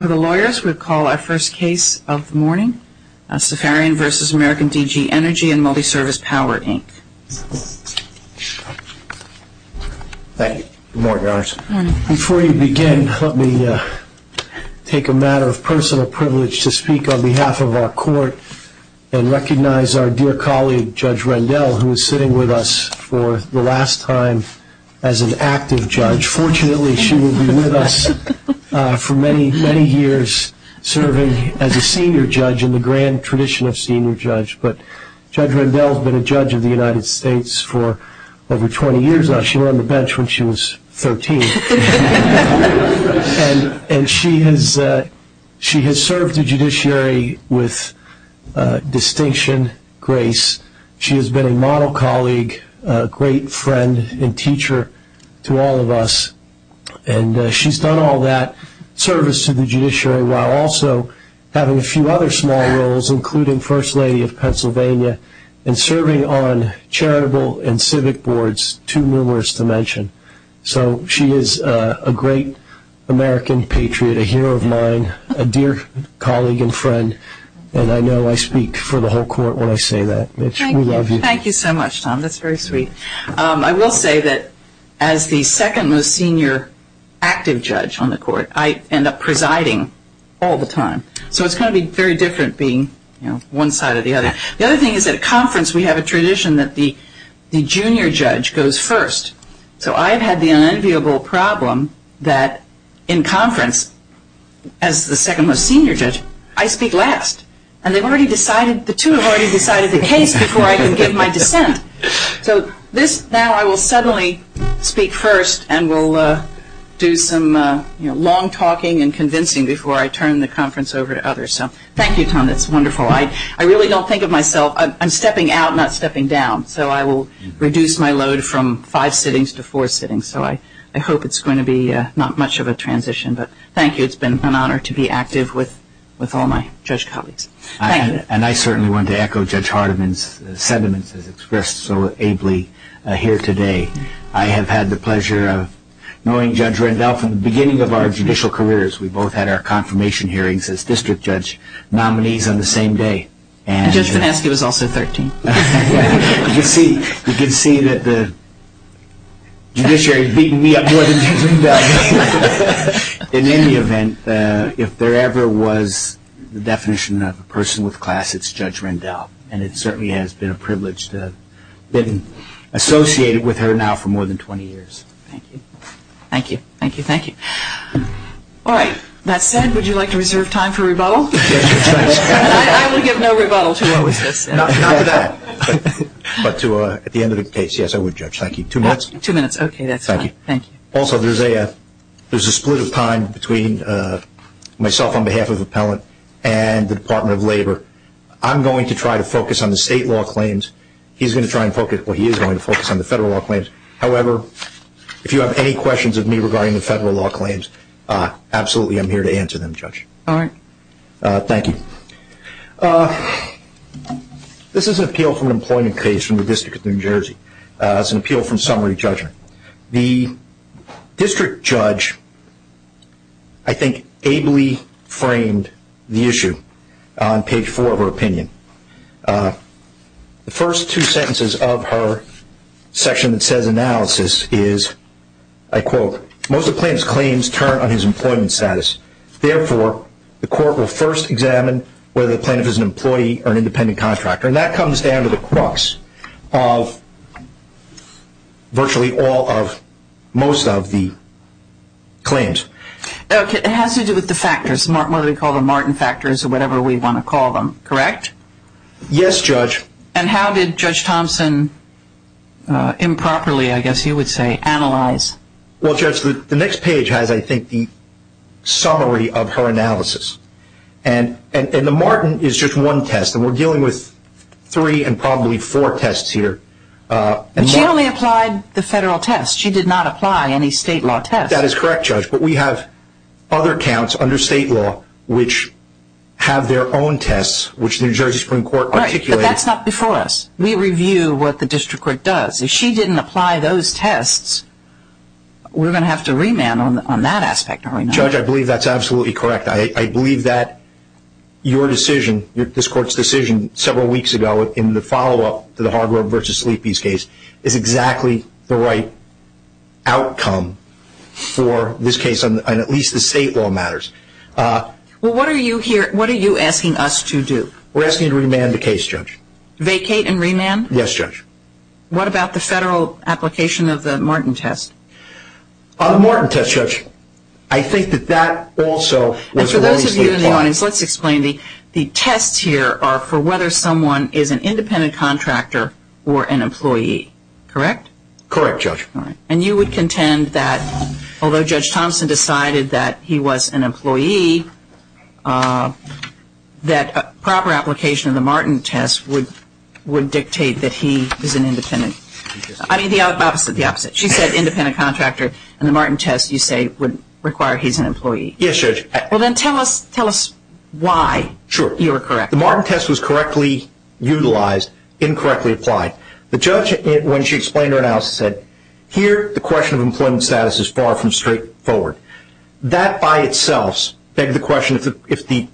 For the lawyers, we'll call our first case of the morning, Safarian v. American DG Energy and Multiservice Power Inc. Thank you. Good morning, Your Honors. Good morning. Before you begin, let me take a matter of personal privilege to speak on behalf of our court and recognize our dear colleague, Judge Rendell, who is sitting with us for the last time as an active judge. Judge, fortunately, she will be with us for many, many years, serving as a senior judge in the grand tradition of senior judge. But Judge Rendell has been a judge of the United States for over 20 years now. She were on the bench when she was 13. She has been a model colleague, a great friend and teacher to all of us. And she's done all that service to the judiciary while also having a few other small roles, including First Lady of Pennsylvania and serving on charitable and civic boards, too numerous to mention. So she is a great American patriot, a hero of mine, a dear colleague and friend. And I know I speak for the whole court when I say that. Mitch, we love you. Thank you. Thank you so much, Tom. That's very sweet. I will say that as the second most senior active judge on the court, I end up presiding all the time. So it's going to be very different being one side or the other. The other thing is at a conference we have a tradition that the junior judge goes first. So I've had the unenviable problem that in conference, as the second most senior judge, I speak last. And the two have already decided the case before I can give my dissent. So now I will suddenly speak first and we'll do some long talking and convincing before I turn the conference over to others. So thank you, Tom. That's wonderful. I really don't think of myself, I'm stepping out, not stepping down. So I will reduce my load from five sittings to four sittings. So I hope it's going to be not much of a transition. But thank you. It's been an honor to be active with all my judge colleagues. Thank you. And I certainly want to echo Judge Hardiman's sentiments as expressed so ably here today. I have had the pleasure of knowing Judge Rendell from the beginning of our judicial careers. We both had our confirmation hearings as district judge nominees on the same day. And Judge Finansky was also 13. You can see that the judiciary has beaten me up more than Judge Rendell. In any event, if there ever was the definition of a person with class, it's Judge Rendell. And it certainly has been a privilege to have been associated with her now for more than 20 years. Thank you. Thank you. Thank you. All right. That said, would you like to reserve time for rebuttal? I will give no rebuttal to what was just said. Not for that. But at the end of the case, yes, I would, Judge. Thank you. Two minutes? Two minutes. Okay. That's fine. Thank you. Also, there's a split of time between myself on behalf of Appellant and the Department of Labor. I'm going to try to focus on the state law claims. He's going to try to focus on the federal law claims. However, if you have any questions of me regarding the federal law claims, absolutely I'm here to answer them, Judge. All right. Thank you. This is an appeal from an employment case from the District of New Jersey. It's an appeal from summary judgment. The district judge, I think, ably framed the issue on page four of her opinion. The first two sentences of her section that says analysis is, I quote, Most of the plaintiff's claims turn on his employment status. Therefore, the court will first examine whether the plaintiff is an employee or an independent contractor. And that comes down to the crux of virtually all of most of the claims. Okay. It has to do with the factors, what we call the Martin factors or whatever we want to call them, correct? Yes, Judge. And how did Judge Thompson improperly, I guess you would say, analyze? Well, Judge, the next page has, I think, the summary of her analysis. And the Martin is just one test, and we're dealing with three and probably four tests here. But she only applied the federal test. She did not apply any state law test. That is correct, Judge. But we have other counts under state law which have their own tests, which the New Jersey Supreme Court articulated. Right, but that's not before us. We review what the district court does. If she didn't apply those tests, we're going to have to remand on that aspect. Judge, I believe that's absolutely correct. I believe that your decision, this court's decision several weeks ago in the follow-up to the Hargrove v. Sleepy's case, is exactly the right outcome for this case on at least the state law matters. Well, what are you asking us to do? We're asking you to remand the case, Judge. Vacate and remand? Yes, Judge. What about the federal application of the Martin test? The Martin test, Judge, I think that that also was released. And for those of you in the audience, let's explain. The tests here are for whether someone is an independent contractor or an employee. Correct? Correct, Judge. And you would contend that although Judge Thompson decided that he was an employee, that proper application of the Martin test would dictate that he is an independent. I mean, the opposite, the opposite. She said independent contractor, and the Martin test, you say, would require he's an employee. Yes, Judge. Well, then tell us why you were correct. Sure. The Martin test was correctly utilized, incorrectly applied. The judge, when she explained her analysis, said, here the question of employment status is far from straightforward. That by itself begs the question, if there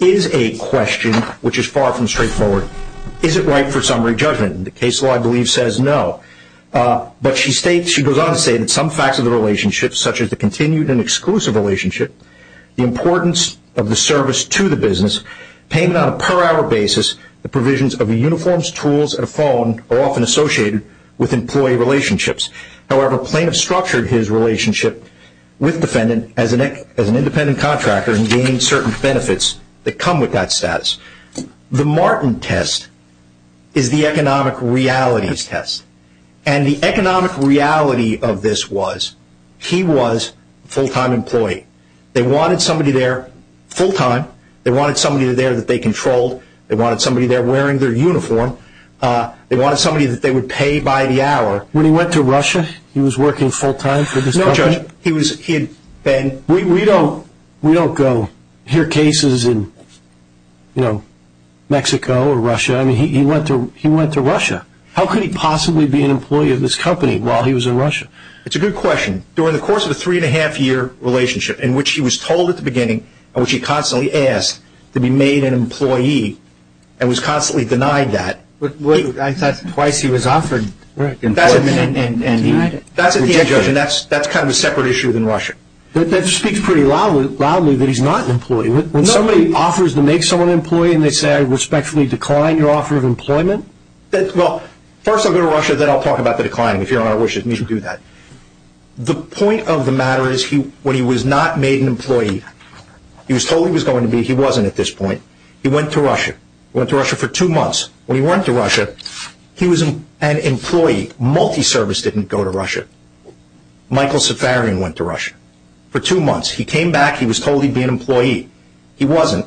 is a question which is far from straightforward, is it right for summary judgment? And the case law, I believe, says no. But she goes on to say that some facts of the relationship, such as the continued and exclusive relationship, the importance of the service to the business, payment on a per hour basis, the provisions of the uniforms, tools, and a phone, are often associated with employee relationships. However, plaintiff structured his relationship with defendant as an independent contractor and gained certain benefits that come with that status. The Martin test is the economic realities test. And the economic reality of this was he was a full-time employee. They wanted somebody there full-time. They wanted somebody there that they controlled. They wanted somebody there wearing their uniform. They wanted somebody that they would pay by the hour. When he went to Russia, he was working full-time for this company? No, Judge, he had been. We don't go hear cases in, you know, Mexico or Russia. I mean, he went to Russia. How could he possibly be an employee of this company while he was in Russia? It's a good question. During the course of a three-and-a-half-year relationship in which he was told at the beginning and which he constantly asked to be made an employee and was constantly denied that. Well, I thought twice he was offered employment and denied it. That's at the end, Judge, and that's kind of a separate issue than Russia. That speaks pretty loudly that he's not an employee. When somebody offers to make someone an employee and they say I respectfully decline your offer of employment? Well, first I'll go to Russia, then I'll talk about the decline, if Your Honor wishes me to do that. The point of the matter is when he was not made an employee, he was told he was going to be. He wasn't at this point. He went to Russia. Went to Russia for two months. When he went to Russia, he was an employee. Multi-service didn't go to Russia. Michael Safarian went to Russia for two months. He came back. He was told he'd be an employee. He wasn't.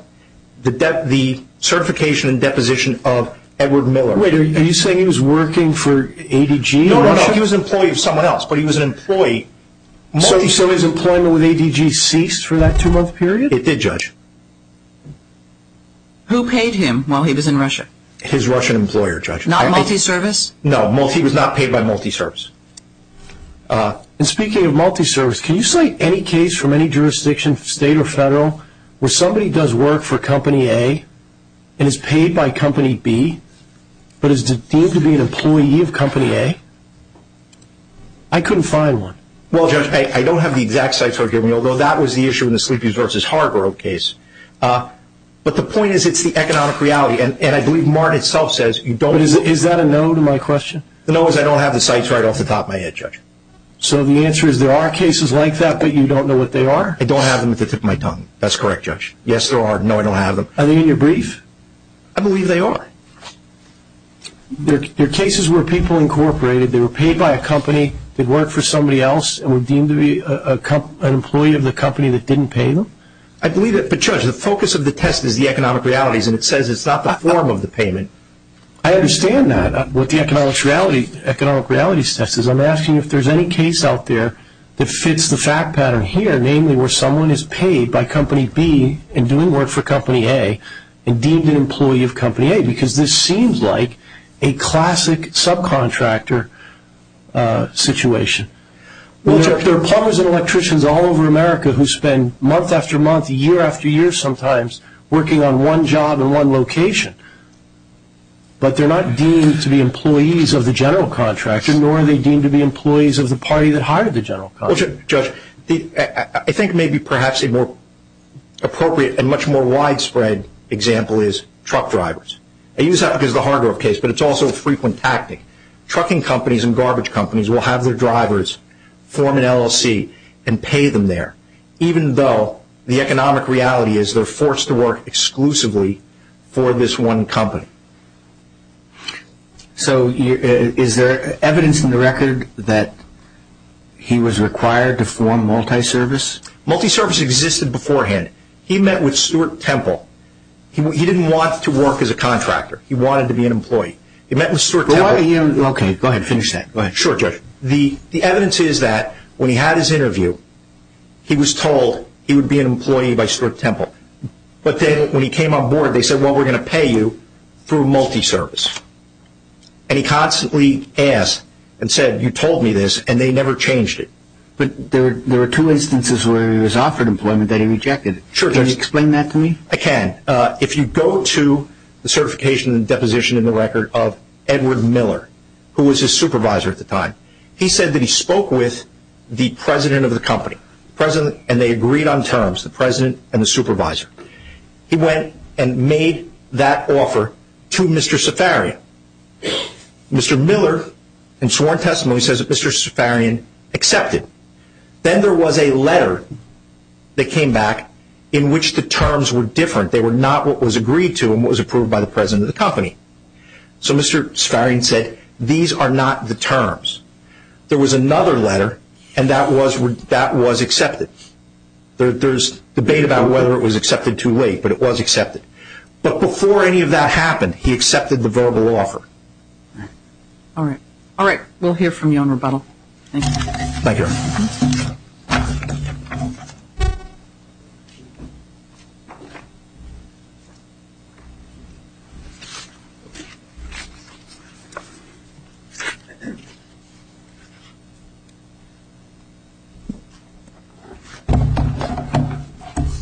The certification and deposition of Edward Miller. Wait, are you saying he was working for ADG in Russia? No, no, no. He was an employee of someone else, but he was an employee. Multi-service employment with ADG ceased for that two-month period? It did, Judge. Who paid him while he was in Russia? His Russian employer, Judge. Not multi-service? No, he was not paid by multi-service. And speaking of multi-service, can you cite any case from any jurisdiction, state or federal, where somebody does work for Company A and is paid by Company B but is deemed to be an employee of Company A? I couldn't find one. Well, Judge, I don't have the exact cites that were given, although that was the issue in the Sleepy's v. Hargrove case. But the point is it's the economic reality. And I believe Martin itself says you don't. But is that a no to my question? The no is I don't have the cites right off the top of my head, Judge. So the answer is there are cases like that, but you don't know what they are? I don't have them at the tip of my tongue. That's correct, Judge. Yes, there are. No, I don't have them. Are they in your brief? I believe they are. They're cases where people incorporated, they were paid by a company, did work for somebody else, and were deemed to be an employee of the company that didn't pay them. But, Judge, the focus of the test is the economic realities, and it says it's not the form of the payment. I understand that, what the economic realities test is. I'm asking if there's any case out there that fits the fact pattern here, namely where someone is paid by Company B and doing work for Company A and deemed an employee of Company A because this seems like a classic subcontractor situation. There are plumbers and electricians all over America who spend month after month, year after year sometimes, working on one job in one location, but they're not deemed to be employees of the general contractor, nor are they deemed to be employees of the party that hired the general contractor. Judge, I think maybe perhaps a more appropriate and much more widespread example is truck drivers. I use that because of the Hardorff case, but it's also a frequent tactic. Trucking companies and garbage companies will have their drivers form an LLC and pay them there, even though the economic reality is they're forced to work exclusively for this one company. So is there evidence in the record that he was required to form multi-service? Multi-service existed beforehand. He met with Stewart Temple. He didn't want to work as a contractor. He wanted to be an employee. He met with Stewart Temple. Okay, go ahead and finish that. Sure, Judge. The evidence is that when he had his interview, he was told he would be an employee by Stewart Temple, but then when he came on board, they said, well, we're going to pay you through multi-service. And he constantly asked and said, you told me this, and they never changed it. But there are two instances where he was offered employment that he rejected. Sure, Judge. Can you explain that to me? I can. If you go to the certification and deposition in the record of Edward Miller, who was his supervisor at the time, he said that he spoke with the president of the company, and they agreed on terms, the president and the supervisor. He went and made that offer to Mr. Safarian. Mr. Miller, in sworn testimony, says that Mr. Safarian accepted. Then there was a letter that came back in which the terms were different. They were not what was agreed to and what was approved by the president of the company. So Mr. Safarian said, these are not the terms. There was another letter, and that was accepted. There's debate about whether it was accepted too late, but it was accepted. But before any of that happened, he accepted the verbal offer. All right. All right. We'll hear from you on rebuttal. Thank you. Thank you.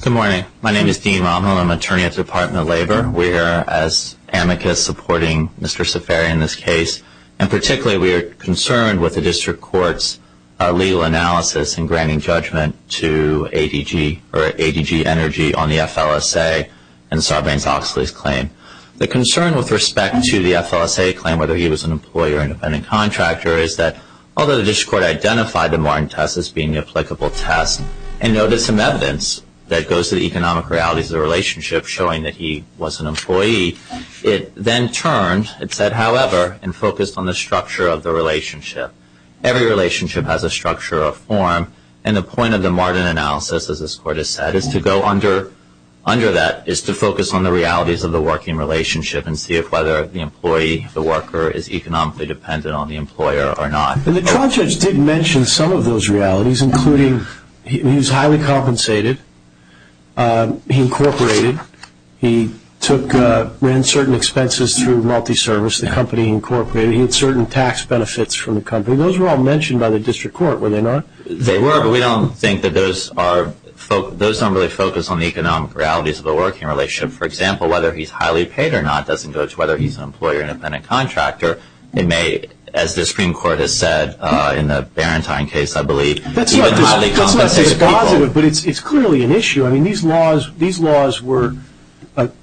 Good morning. My name is Dean Romhill, and I'm an attorney at the Department of Labor. We are, as amicus, supporting Mr. Safarian in this case, and particularly we are concerned with the district court's legal analysis in granting judgment to ADG Energy on the FLSA and Sarbanes-Oxley's claim. The concern with respect to the FLSA claim, whether he was an employer or an independent contractor, is that although the district court identified the Martin test as being the applicable test and noted some evidence that goes to the economic realities of the relationship, showing that he was an employee, it then turned, it said, however, and focused on the structure of the relationship. Every relationship has a structure or a form, and the point of the Martin analysis, as this court has said, is to go under that, is to focus on the realities of the working relationship and see if whether the employee, the worker, is economically dependent on the employer or not. And the trial judge did mention some of those realities, including he was highly compensated. He incorporated. He took, ran certain expenses through multi-service, the company he incorporated. He had certain tax benefits from the company. Those were all mentioned by the district court, were they not? They were, but we don't think that those are, those don't really focus on the economic realities of the working relationship. For example, whether he's highly paid or not doesn't go to whether he's an employer or an independent contractor. It may, as the Supreme Court has said in the Barentine case, I believe, even highly compensated people. That's not just positive, but it's clearly an issue. I mean, these laws were,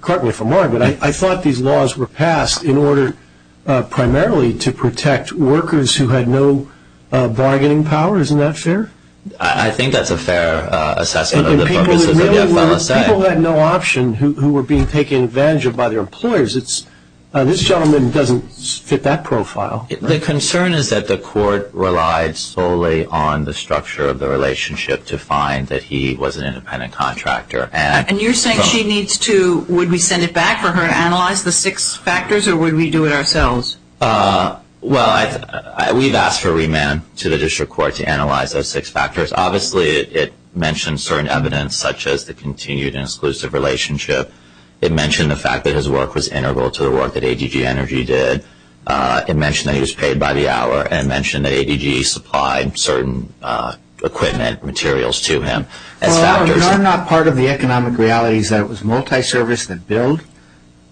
partly for Martin, but I thought these laws were passed in order primarily to protect workers who had no bargaining power. Isn't that fair? I think that's a fair assessment of the purposes of the FLSA. People who had no option who were being taken advantage of by their employers, this gentleman doesn't fit that profile. The concern is that the court relied solely on the structure of the relationship to find that he was an independent contractor. And you're saying she needs to, would we send it back for her to analyze the six factors, or would we do it ourselves? Well, we've asked for remand to the district court to analyze those six factors. Obviously, it mentions certain evidence, such as the continued and exclusive relationship. It mentioned the fact that his work was integral to the work that ADG Energy did. It mentioned that he was paid by the hour, and it mentioned that ADG supplied certain equipment materials to him as factors. Well, you're not part of the economic realities that it was multi-service that billed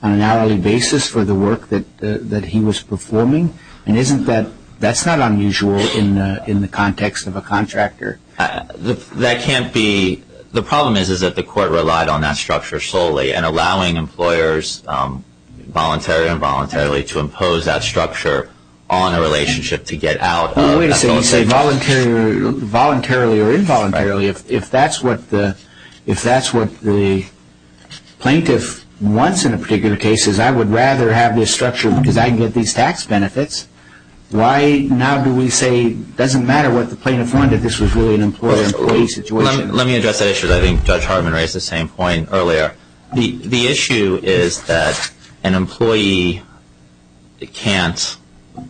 on an hourly basis for the work that he was performing. That's not unusual in the context of a contractor. That can't be. The problem is that the court relied on that structure solely and allowing employers voluntarily and involuntarily to impose that structure on a relationship to get out. Wait a second. You say voluntarily or involuntarily. If that's what the plaintiff wants in a particular case, I would rather have this structure because I get these tax benefits. Why now do we say it doesn't matter what the plaintiff wanted. This was really an employer-employee situation. Let me address that issue. I think Judge Hartman raised the same point earlier. The issue is that an employee can't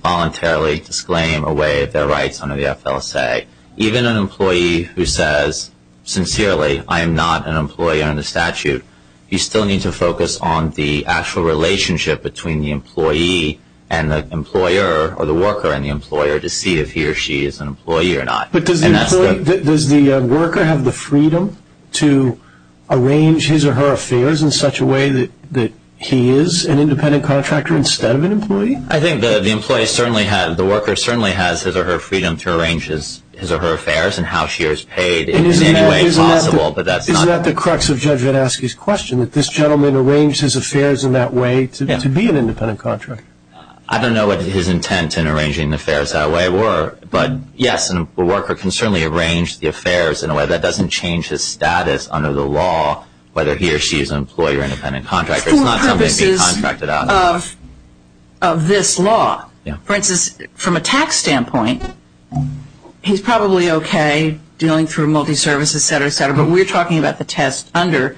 voluntarily disclaim away their rights under the FLSA. Even an employee who says sincerely, I am not an employee under statute, you still need to focus on the actual relationship between the employee and the employer or the worker and the employer to see if he or she is an employee or not. Does the worker have the freedom to arrange his or her affairs in such a way that he is an independent contractor instead of an employee? I think the worker certainly has his or her freedom to arrange his or her affairs and how she is paid in any way possible. Isn't that the crux of Judge Vadaski's question, that this gentleman arranged his affairs in that way to be an independent contractor? I don't know what his intent in arranging affairs that way were, but yes, a worker can certainly arrange the affairs in a way that doesn't change his status under the law, whether he or she is an employee or an independent contractor. It's not something to be contracted out of. For purposes of this law. For instance, from a tax standpoint, he's probably okay dealing through multi-services, et cetera, et cetera, but we're talking about the test under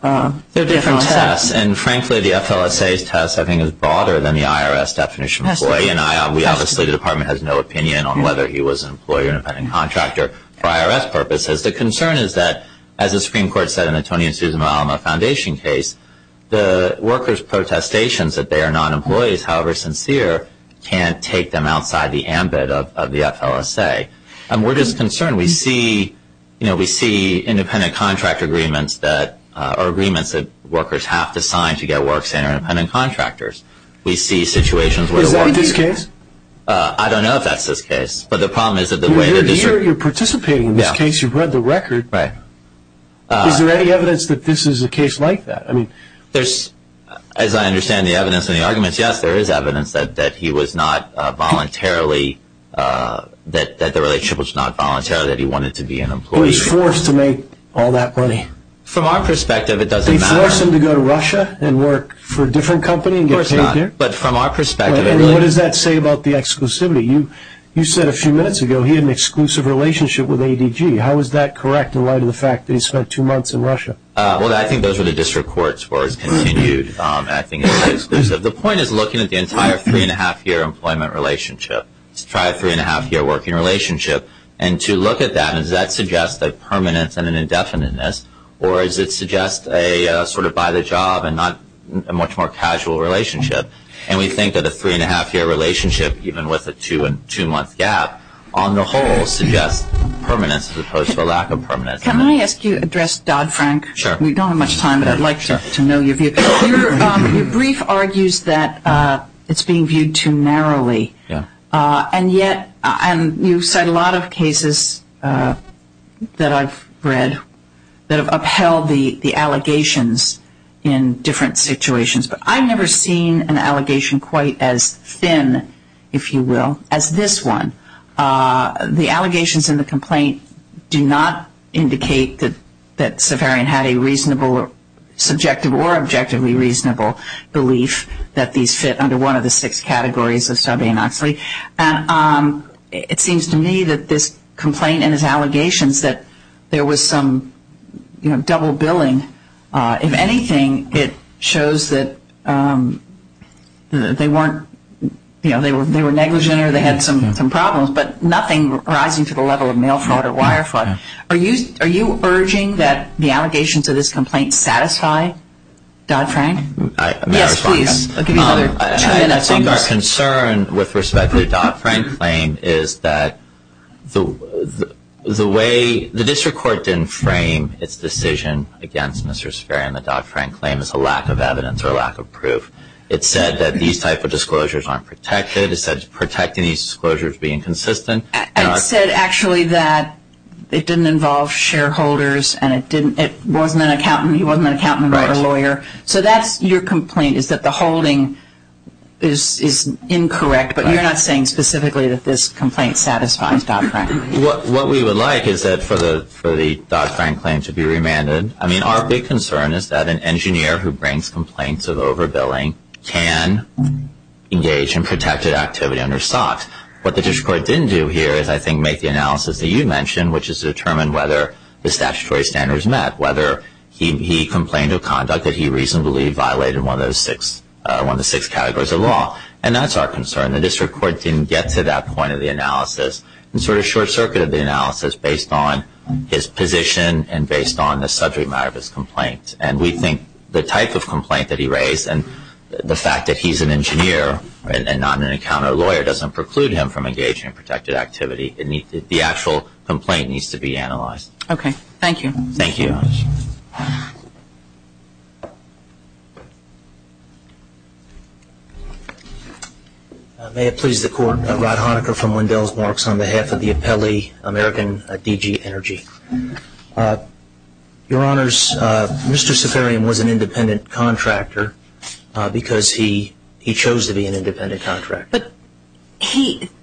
the FLSA. Frankly, the FLSA's test I think is broader than the IRS definition. We obviously, the Department has no opinion on whether he was an employee or an independent contractor for IRS purposes. The concern is that, as the Supreme Court said in the Tony and Susan Malama Foundation case, the workers' protestations that they are non-employees, however sincere, can't take them outside the ambit of the FLSA. We're just concerned. We see independent contractor agreements that are agreements that workers have to sign to get work signed by independent contractors. Is that in this case? I don't know if that's this case. You're participating in this case. You've read the record. Right. Is there any evidence that this is a case like that? As I understand the evidence and the arguments, yes, there is evidence that he was not voluntarily, that the relationship was not voluntarily, that he wanted to be an employee. He was forced to make all that money. From our perspective, it doesn't matter. They force him to go to Russia and work for a different company and get paid there? Of course not, but from our perspective it really is. What does that say about the exclusivity? You said a few minutes ago he had an exclusive relationship with ADG. How is that correct in light of the fact that he spent two months in Russia? Well, I think those were the district court's words, continued acting as an exclusive. The point is looking at the entire three-and-a-half-year employment relationship. Let's try a three-and-a-half-year working relationship. And to look at that, does that suggest a permanence and an indefiniteness, or does it suggest a sort of by-the-job and not a much more casual relationship? And we think that a three-and-a-half-year relationship, even with a two-month gap, on the whole suggests permanence as opposed to a lack of permanence. Can I ask you to address Dodd-Frank? Sure. We don't have much time, but I'd like to know your view. Your brief argues that it's being viewed too narrowly. And yet you cite a lot of cases that I've read that have upheld the allegations in different situations. But I've never seen an allegation quite as thin, if you will, as this one. The allegations in the complaint do not indicate that Sefarian had a reasonable, subjective or objectively reasonable belief that these fit under one of the six categories of sub-anoxy. And it seems to me that this complaint and his allegations that there was some double billing, if anything, it shows that they were negligent or they had some problems, but nothing rising to the level of mail fraud or wire fraud. Are you urging that the allegations of this complaint satisfy Dodd-Frank? May I respond? Yes, please. I'll give you another two minutes on this. I think our concern with respect to the Dodd-Frank claim is that the way – the district court didn't frame its decision against Mr. Sefarian, the Dodd-Frank claim, as a lack of evidence or a lack of proof. It said that these type of disclosures aren't protected. It said protecting these disclosures being consistent. And it said actually that it didn't involve shareholders and it didn't – it wasn't an accountant. He wasn't an accountant. He wasn't a lawyer. So that's – your complaint is that the holding is incorrect, but you're not saying specifically that this complaint satisfies Dodd-Frank. What we would like is that for the Dodd-Frank claim to be remanded – I mean, our big concern is that an engineer who brings complaints of overbilling can engage in protected activity under SOX. What the district court didn't do here is, I think, make the analysis that you mentioned, which is determine whether the statutory standards met, whether he complained of conduct that he reasonably violated one of the six categories of law. And that's our concern. The district court didn't get to that point of the analysis. And sort of short-circuited the analysis based on his position and based on the subject matter of his complaint. And we think the type of complaint that he raised and the fact that he's an engineer and not an accountant or lawyer doesn't preclude him from engaging in protected activity. The actual complaint needs to be analyzed. Okay. Thank you. Thank you. Thank you, Your Honor. May it please the Court, Rod Honaker from Wendell's Marks on behalf of the appellee, American D.G. Energy. Your Honors, Mr. Saffarian was an independent contractor because he chose to be an independent contractor. But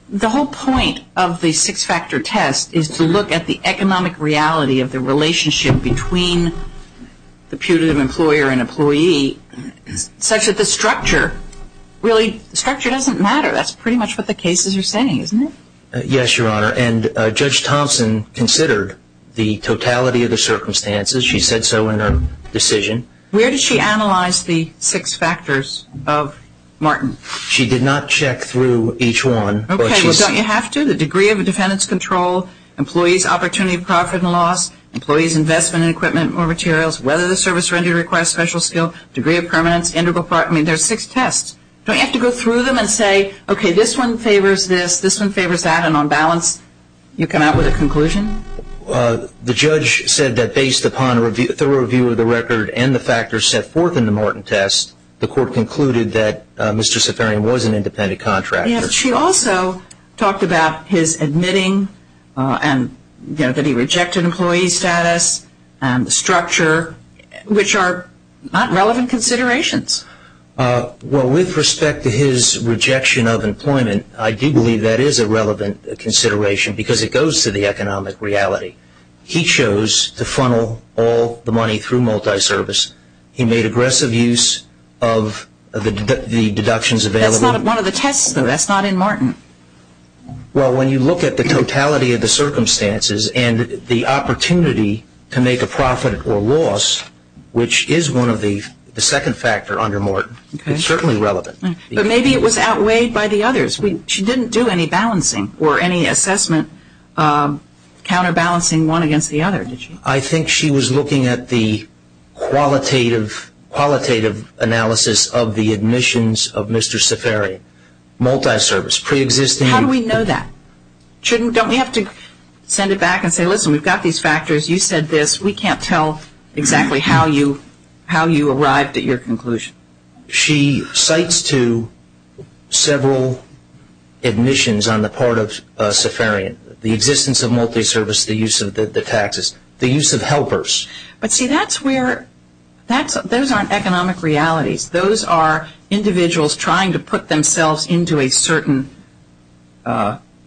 the whole point of the six-factor test is to look at the economic reality of the relationship between the putative employer and employee such that the structure really doesn't matter. That's pretty much what the cases are saying, isn't it? Yes, Your Honor. And Judge Thompson considered the totality of the circumstances. She said so in her decision. Where did she analyze the six factors of Martin? She did not check through each one. Okay. Well, don't you have to? The degree of a defendant's control, employee's opportunity of profit and loss, employee's investment in equipment or materials, whether the service rendered requires special skill, degree of permanence, integral part. I mean, there are six tests. Don't you have to go through them and say, okay, this one favors this, this one favors that, and on balance you come out with a conclusion? The judge said that based upon the review of the record and the factors set forth in the Martin test, the court concluded that Mr. Safarian was an independent contractor. Yes. She also talked about his admitting and that he rejected employee status and structure, which are not relevant considerations. Well, with respect to his rejection of employment, I do believe that is a relevant consideration because it goes to the economic reality. He chose to funnel all the money through multiservice. He made aggressive use of the deductions available. That's not one of the tests, though. That's not in Martin. Well, when you look at the totality of the circumstances and the opportunity to make a profit or loss, which is one of the second factor under Martin, it's certainly relevant. But maybe it was outweighed by the others. She didn't do any balancing or any assessment, counterbalancing one against the other, did she? I think she was looking at the qualitative analysis of the admissions of Mr. Safarian. Multiservice, preexisting. How do we know that? Don't we have to send it back and say, listen, we've got these factors, you said this, we can't tell exactly how you arrived at your conclusion. She cites to several admissions on the part of Safarian the existence of multiservice, the use of the taxes, the use of helpers. But, see, those aren't economic realities. Those are individuals trying to put themselves into a certain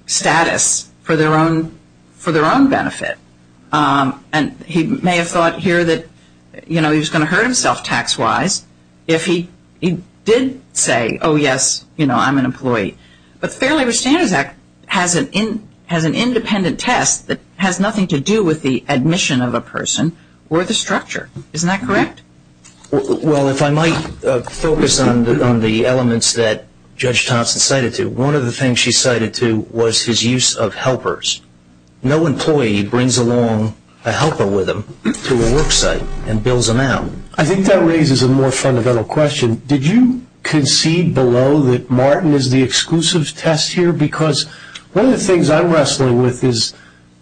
status for their own benefit. He may have thought here that he was going to hurt himself tax-wise if he did say, oh, yes, I'm an employee. But Fair Labor Standards Act has an independent test that has nothing to do with the admission of a person or the structure. Isn't that correct? Well, if I might focus on the elements that Judge Thompson cited to, one of the things she cited to was his use of helpers. No employee brings along a helper with them to a work site and bills them out. I think that raises a more fundamental question. Did you concede below that Martin is the exclusive test here? Because one of the things I'm wrestling with is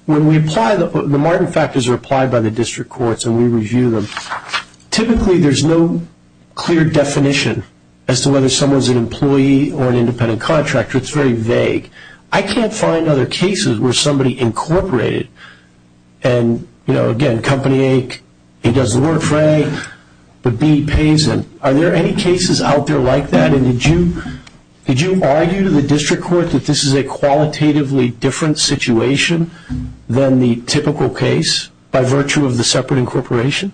when we apply the Martin factors are applied by the district courts and we review them, typically there's no clear definition as to whether someone's an employee or an independent contractor. It's very vague. I can't find other cases where somebody incorporated and, you know, again, company A, he does the work for A, but B pays him. Are there any cases out there like that? And did you argue to the district court that this is a qualitatively different situation than the typical case by virtue of the separate incorporation?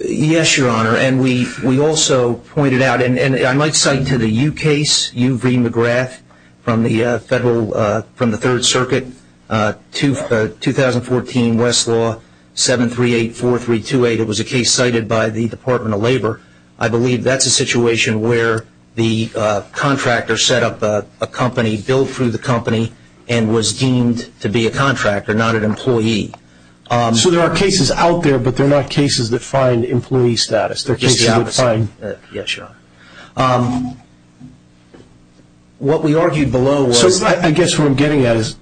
Yes, Your Honor. And we also pointed out, and I might cite to the U case, U.V. McGrath from the Third Circuit, 2014 Westlaw 7384328. It was a case cited by the Department of Labor. I believe that's a situation where the contractor set up a company, billed through the company, and was deemed to be a contractor, not an employee. So there are cases out there, but they're not cases that find employee status. They're cases that find – yes, Your Honor. What we argued below was – So I guess what I'm getting at is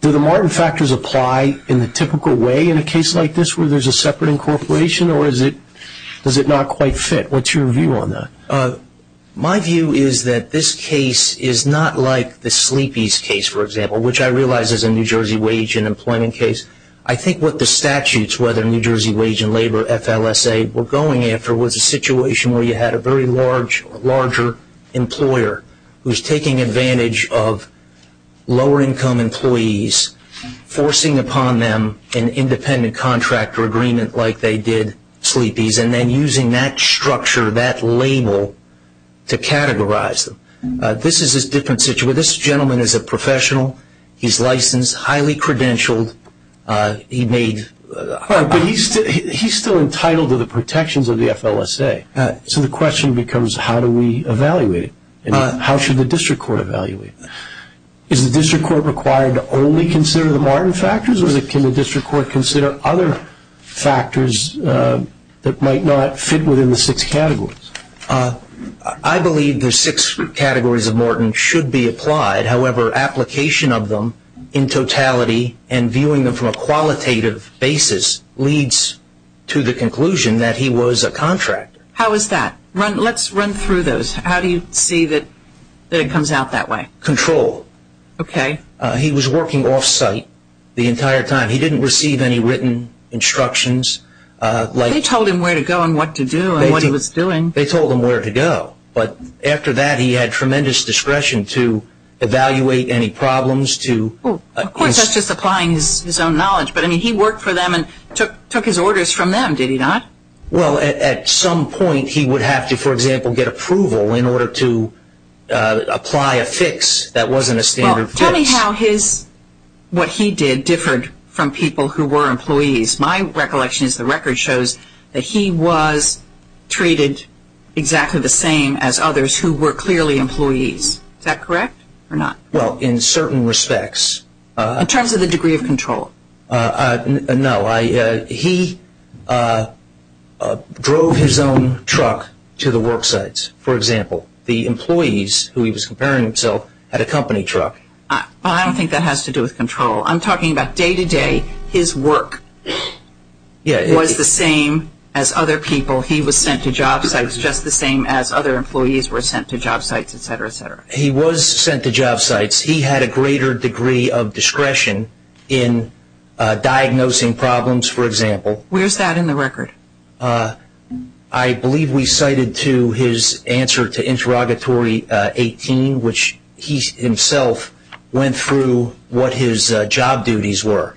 do the Martin factors apply in the typical way in a case like this where there's a separate incorporation, or does it not quite fit? What's your view on that? My view is that this case is not like the Sleepy's case, for example, which I realize is a New Jersey wage and employment case. I think what the statutes, whether New Jersey wage and labor, FLSA, were going after was a situation where you had a very large, larger employer who's taking advantage of lower-income employees, forcing upon them an independent contractor agreement like they did Sleepy's, and then using that structure, that label, to categorize them. This is a different situation. This gentleman is a professional. He's licensed, highly credentialed. He made – But he's still entitled to the protections of the FLSA. So the question becomes how do we evaluate it, and how should the district court evaluate it? Is the district court required to only consider the Martin factors, or can the district court consider other factors that might not fit within the six categories? I believe the six categories of Martin should be applied. However, application of them in totality and viewing them from a qualitative basis leads to the conclusion that he was a contractor. How is that? Let's run through those. How do you see that it comes out that way? Control. Okay. He was working off-site the entire time. He didn't receive any written instructions. They told him where to go and what to do and what he was doing. They told him where to go. But after that, he had tremendous discretion to evaluate any problems, to – Of course, that's just applying his own knowledge. But, I mean, he worked for them and took his orders from them, did he not? Well, at some point he would have to, for example, get approval in order to apply a fix that wasn't a standard fix. Well, tell me how his – what he did differed from people who were employees. My recollection is the record shows that he was treated exactly the same as others who were clearly employees. Is that correct or not? Well, in certain respects. In terms of the degree of control? No. He drove his own truck to the work sites, for example. The employees who he was comparing himself had a company truck. I don't think that has to do with control. I'm talking about day-to-day. His work was the same as other people. He was sent to job sites just the same as other employees were sent to job sites, et cetera, et cetera. He was sent to job sites. He had a greater degree of discretion in diagnosing problems, for example. Where's that in the record? I believe we cited to his answer to interrogatory 18, which he himself went through what his job duties were.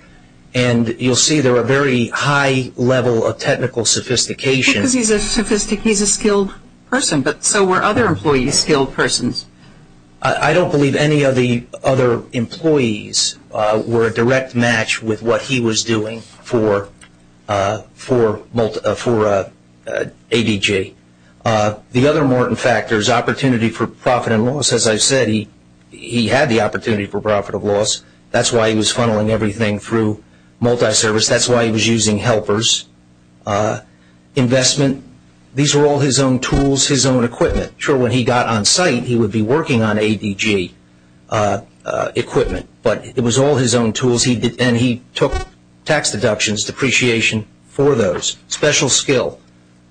And you'll see they're a very high level of technical sophistication. Because he's a skilled person. So were other employees skilled persons? I don't believe any of the other employees were a direct match with what he was doing for ADG. The other important factor is opportunity for profit and loss. As I said, he had the opportunity for profit and loss. That's why he was funneling everything through multi-service. That's why he was using helpers. Investment. These were all his own tools, his own equipment. I'm not sure when he got on site he would be working on ADG equipment. But it was all his own tools. And he took tax deductions, depreciation for those. Special skill.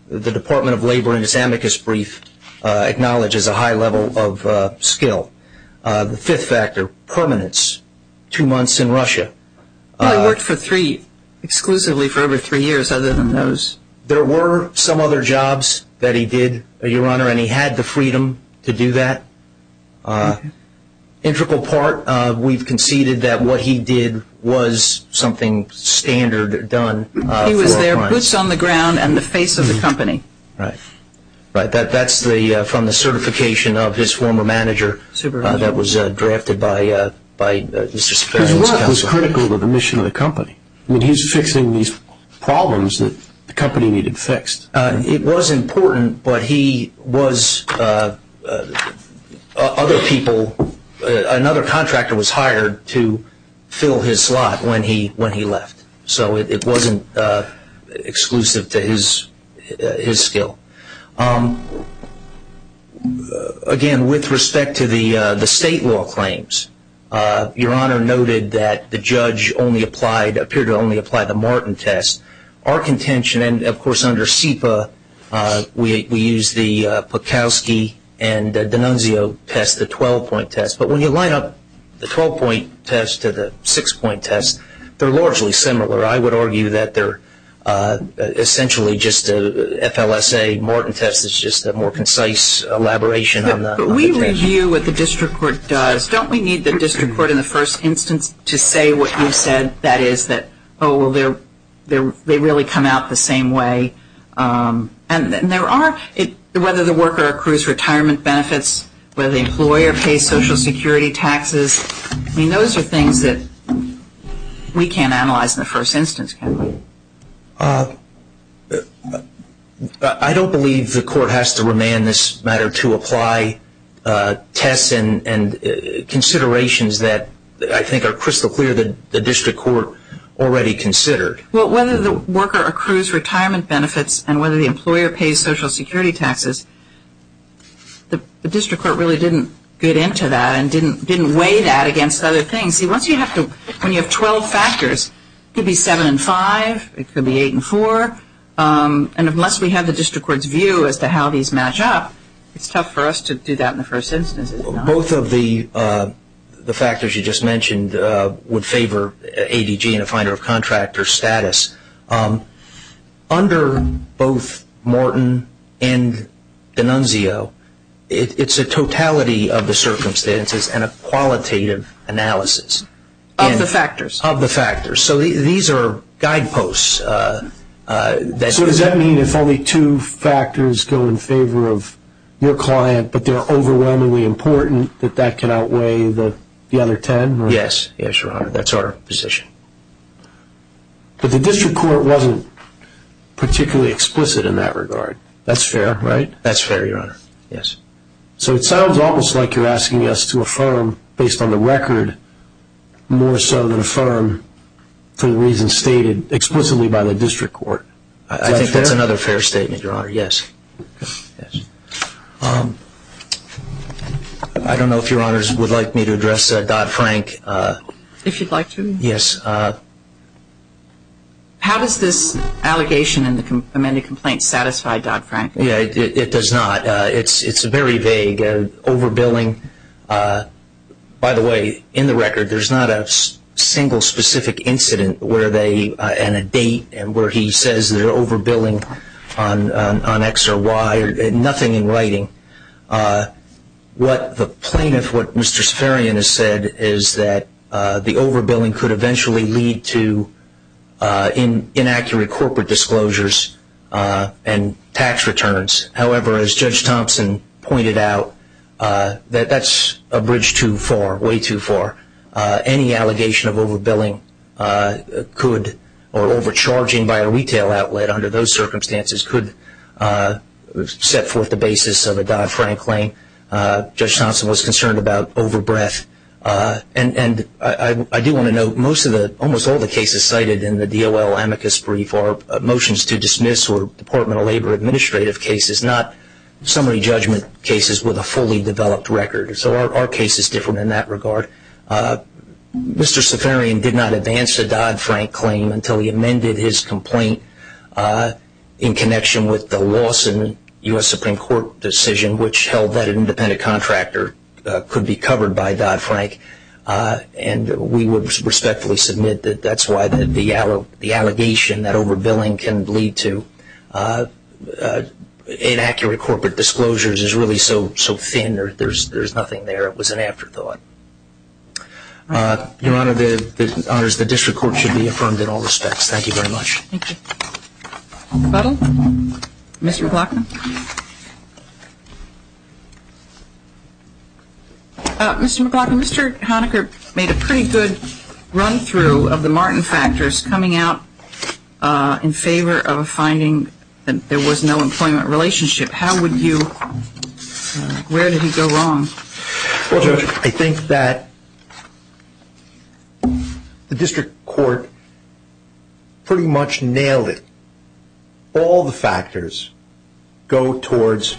The Department of Labor in its amicus brief acknowledges a high level of skill. The fifth factor, permanence. Two months in Russia. He worked exclusively for over three years other than those. There were some other jobs that he did, Your Honor, and he had the freedom to do that. Integral part, we've conceded that what he did was something standard done. He was there boots on the ground and the face of the company. Right. That's from the certification of his former manager that was drafted by Mr. Sperry's counsel. His work was critical to the mission of the company. I mean, he was fixing these problems that the company needed fixed. It was important, but he was other people. Another contractor was hired to fill his slot when he left. So it wasn't exclusive to his skill. Again, with respect to the state law claims, Your Honor noted that the judge appeared to only apply the Martin test. Our contention, and, of course, under SEPA, we use the Pukowski and D'Annunzio test, the 12-point test. But when you line up the 12-point test to the 6-point test, they're largely similar. I would argue that they're essentially just an FLSA Martin test. It's just a more concise elaboration on the contention. But we review what the district court does. Don't we need the district court in the first instance to say what you said, that is, that, oh, well, they really come out the same way? And there are, whether the worker accrues retirement benefits, whether the employer pays Social Security taxes, I mean, those are things that we can't analyze in the first instance, can we? I don't believe the court has to remand this matter to apply tests and considerations that I think are crystal clear that the district court already considered. Well, whether the worker accrues retirement benefits and whether the employer pays Social Security taxes, the district court really didn't get into that and didn't weigh that against other things. When you have 12 factors, it could be 7 and 5. It could be 8 and 4. And unless we have the district court's view as to how these match up, it's tough for us to do that in the first instance. Both of the factors you just mentioned would favor ADG and a finder of contractor status. Under both Morton and D'Annunzio, it's a totality of the circumstances and a qualitative analysis. Of the factors. Of the factors. So these are guideposts. So does that mean if only two factors go in favor of your client but they're overwhelmingly important, that that can outweigh the other 10? Yes. Yes, Your Honor. That's our position. But the district court wasn't particularly explicit in that regard. That's fair, right? That's fair, Your Honor. Yes. So it sounds almost like you're asking us to affirm based on the record more so than affirm for the reasons stated explicitly by the district court. Is that fair? I think that's another fair statement, Your Honor. Yes. Okay. Yes. I don't know if Your Honors would like me to address Dodd-Frank. If you'd like to. Yes. How does this allegation in the amended complaint satisfy Dodd-Frank? It does not. It's very vague. Overbilling. By the way, in the record, there's not a single specific incident and a date where he says they're overbilling on X or Y. Nothing in writing. The plaintiff, what Mr. Saffarian has said, is that the overbilling could eventually lead to inaccurate corporate disclosures and tax returns. However, as Judge Thompson pointed out, that's a bridge too far, way too far. Any allegation of overbilling or overcharging by a retail outlet under those circumstances could set forth the basis of a Dodd-Frank claim. Judge Thompson was concerned about overbreath. And I do want to note, almost all the cases cited in the DOL amicus brief are motions to dismiss or Department of Labor administrative cases, not summary judgment cases with a fully developed record. So our case is different in that regard. Mr. Saffarian did not advance a Dodd-Frank claim until he amended his complaint in connection with the Lawson U.S. Supreme Court decision, which held that an independent contractor could be covered by Dodd-Frank. And we would respectfully submit that that's why the allegation that overbilling can lead to inaccurate corporate disclosures is really so thin that there's nothing there. It was an afterthought. Your Honor, the District Court should be affirmed in all respects. Thank you very much. Thank you. Butler? Mr. McLaughlin? Mr. McLaughlin, Mr. Honaker made a pretty good run-through of the Martin factors coming out in favor of a finding that there was no employment relationship. How would you, where did he go wrong? Well, Judge, I think that the District Court pretty much nailed it. All the factors go towards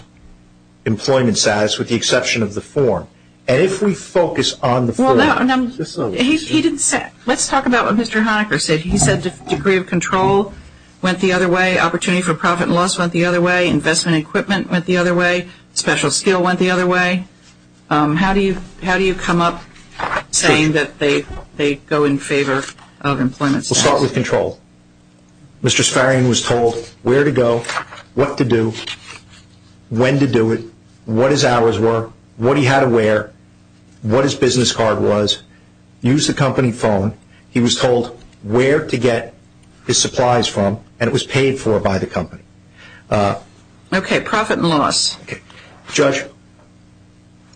employment status with the exception of the form. And if we focus on the form. He didn't say, let's talk about what Mr. Honaker said. He said the degree of control went the other way, opportunity for profit and loss went the other way, investment equipment went the other way, special skill went the other way. How do you come up saying that they go in favor of employment status? Let's start with control. Mr. Sparrian was told where to go, what to do, when to do it, what his hours were, what he had to wear, what his business card was, use the company phone. He was told where to get his supplies from and it was paid for by the company. Okay, profit and loss. Judge,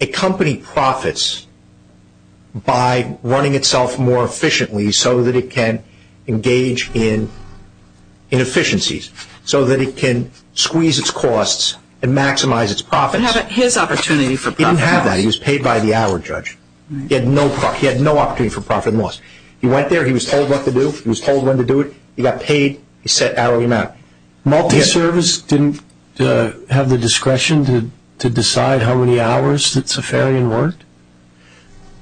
a company profits by running itself more efficiently so that it can engage in efficiencies, so that it can squeeze its costs and maximize its profits. But he didn't have his opportunity for profit and loss. He didn't have that. He was paid by the hour, Judge. He had no opportunity for profit and loss. He went there. He was told what to do. He was told when to do it. He got paid. He set hourly amount. Multi-service didn't have the discretion to decide how many hours that Safarian worked?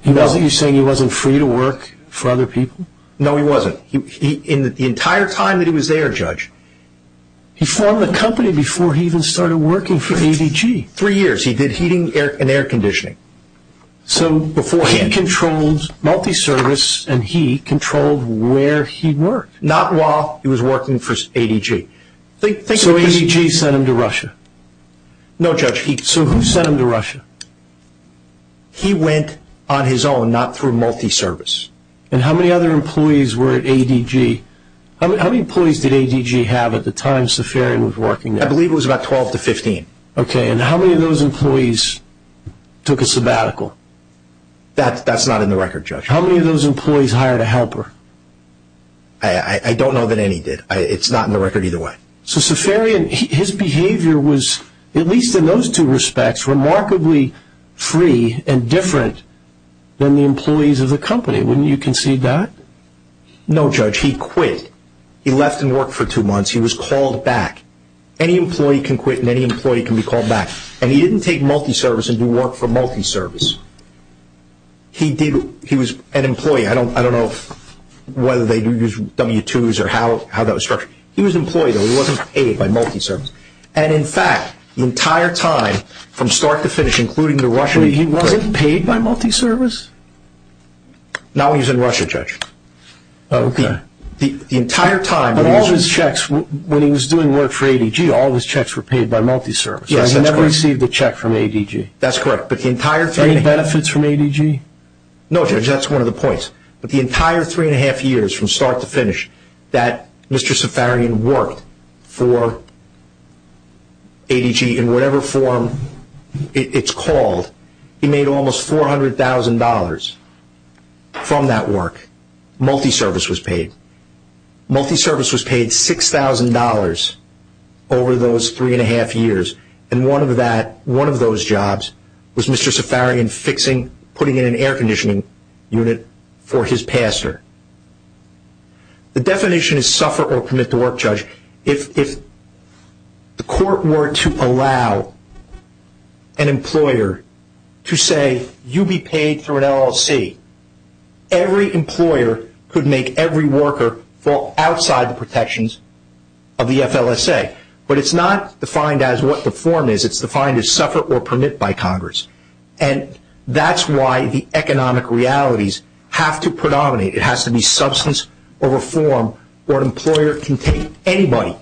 You're saying he wasn't free to work for other people? No, he wasn't. The entire time that he was there, Judge. He formed the company before he even started working for ADG. Three years. He did heating and air conditioning. So beforehand. He controlled multi-service and he controlled where he worked. Not while he was working for ADG. So ADG sent him to Russia? No, Judge. So who sent him to Russia? He went on his own, not through multi-service. And how many other employees were at ADG? How many employees did ADG have at the time Safarian was working there? I believe it was about 12 to 15. Okay. And how many of those employees took a sabbatical? That's not in the record, Judge. How many of those employees hired a helper? I don't know that any did. It's not in the record either way. So Safarian, his behavior was, at least in those two respects, remarkably free and different than the employees of the company. Wouldn't you concede that? No, Judge. He quit. He left and worked for two months. He was called back. Any employee can quit and any employee can be called back. And he didn't take multi-service and do work for multi-service. He did. He was an employee. I don't know whether they do use W-2s or how that was structured. He was an employee, though. He wasn't paid by multi-service. And, in fact, the entire time, from start to finish, including to Russia, he wasn't paid by multi-service? Not while he was in Russia, Judge. Okay. But all his checks, when he was doing work for ADG, all his checks were paid by multi-service. Yes, that's correct. He never received a check from ADG. That's correct. Any benefits from ADG? No, Judge. That's one of the points. But the entire three-and-a-half years, from start to finish, that Mr. Safarian worked for ADG in whatever form it's called, he made almost $400,000 from that work. Multi-service was paid. Multi-service was paid $6,000 over those three-and-a-half years. And one of those jobs was Mr. Safarian fixing, putting in an air conditioning unit for his pastor. The definition is suffer or commit to work, Judge. If the court were to allow an employer to say, you be paid through an LLC, every employer could make every worker fall outside the protections of the FLSA. But it's not defined as what the form is. It's defined as suffer or commit by Congress. And that's why the economic realities have to predominate. It has to be substance or reform where an employer can take anybody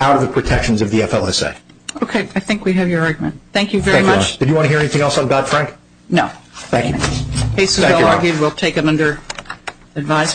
out of the protections of the FLSA. Okay. I think we have your argument. Thank you very much. Thank you, Your Honor. Did you want to hear anything else on Dodd-Frank? No. Thank you. Thank you, Your Honor. Cases well-argued, we'll take them under advisory.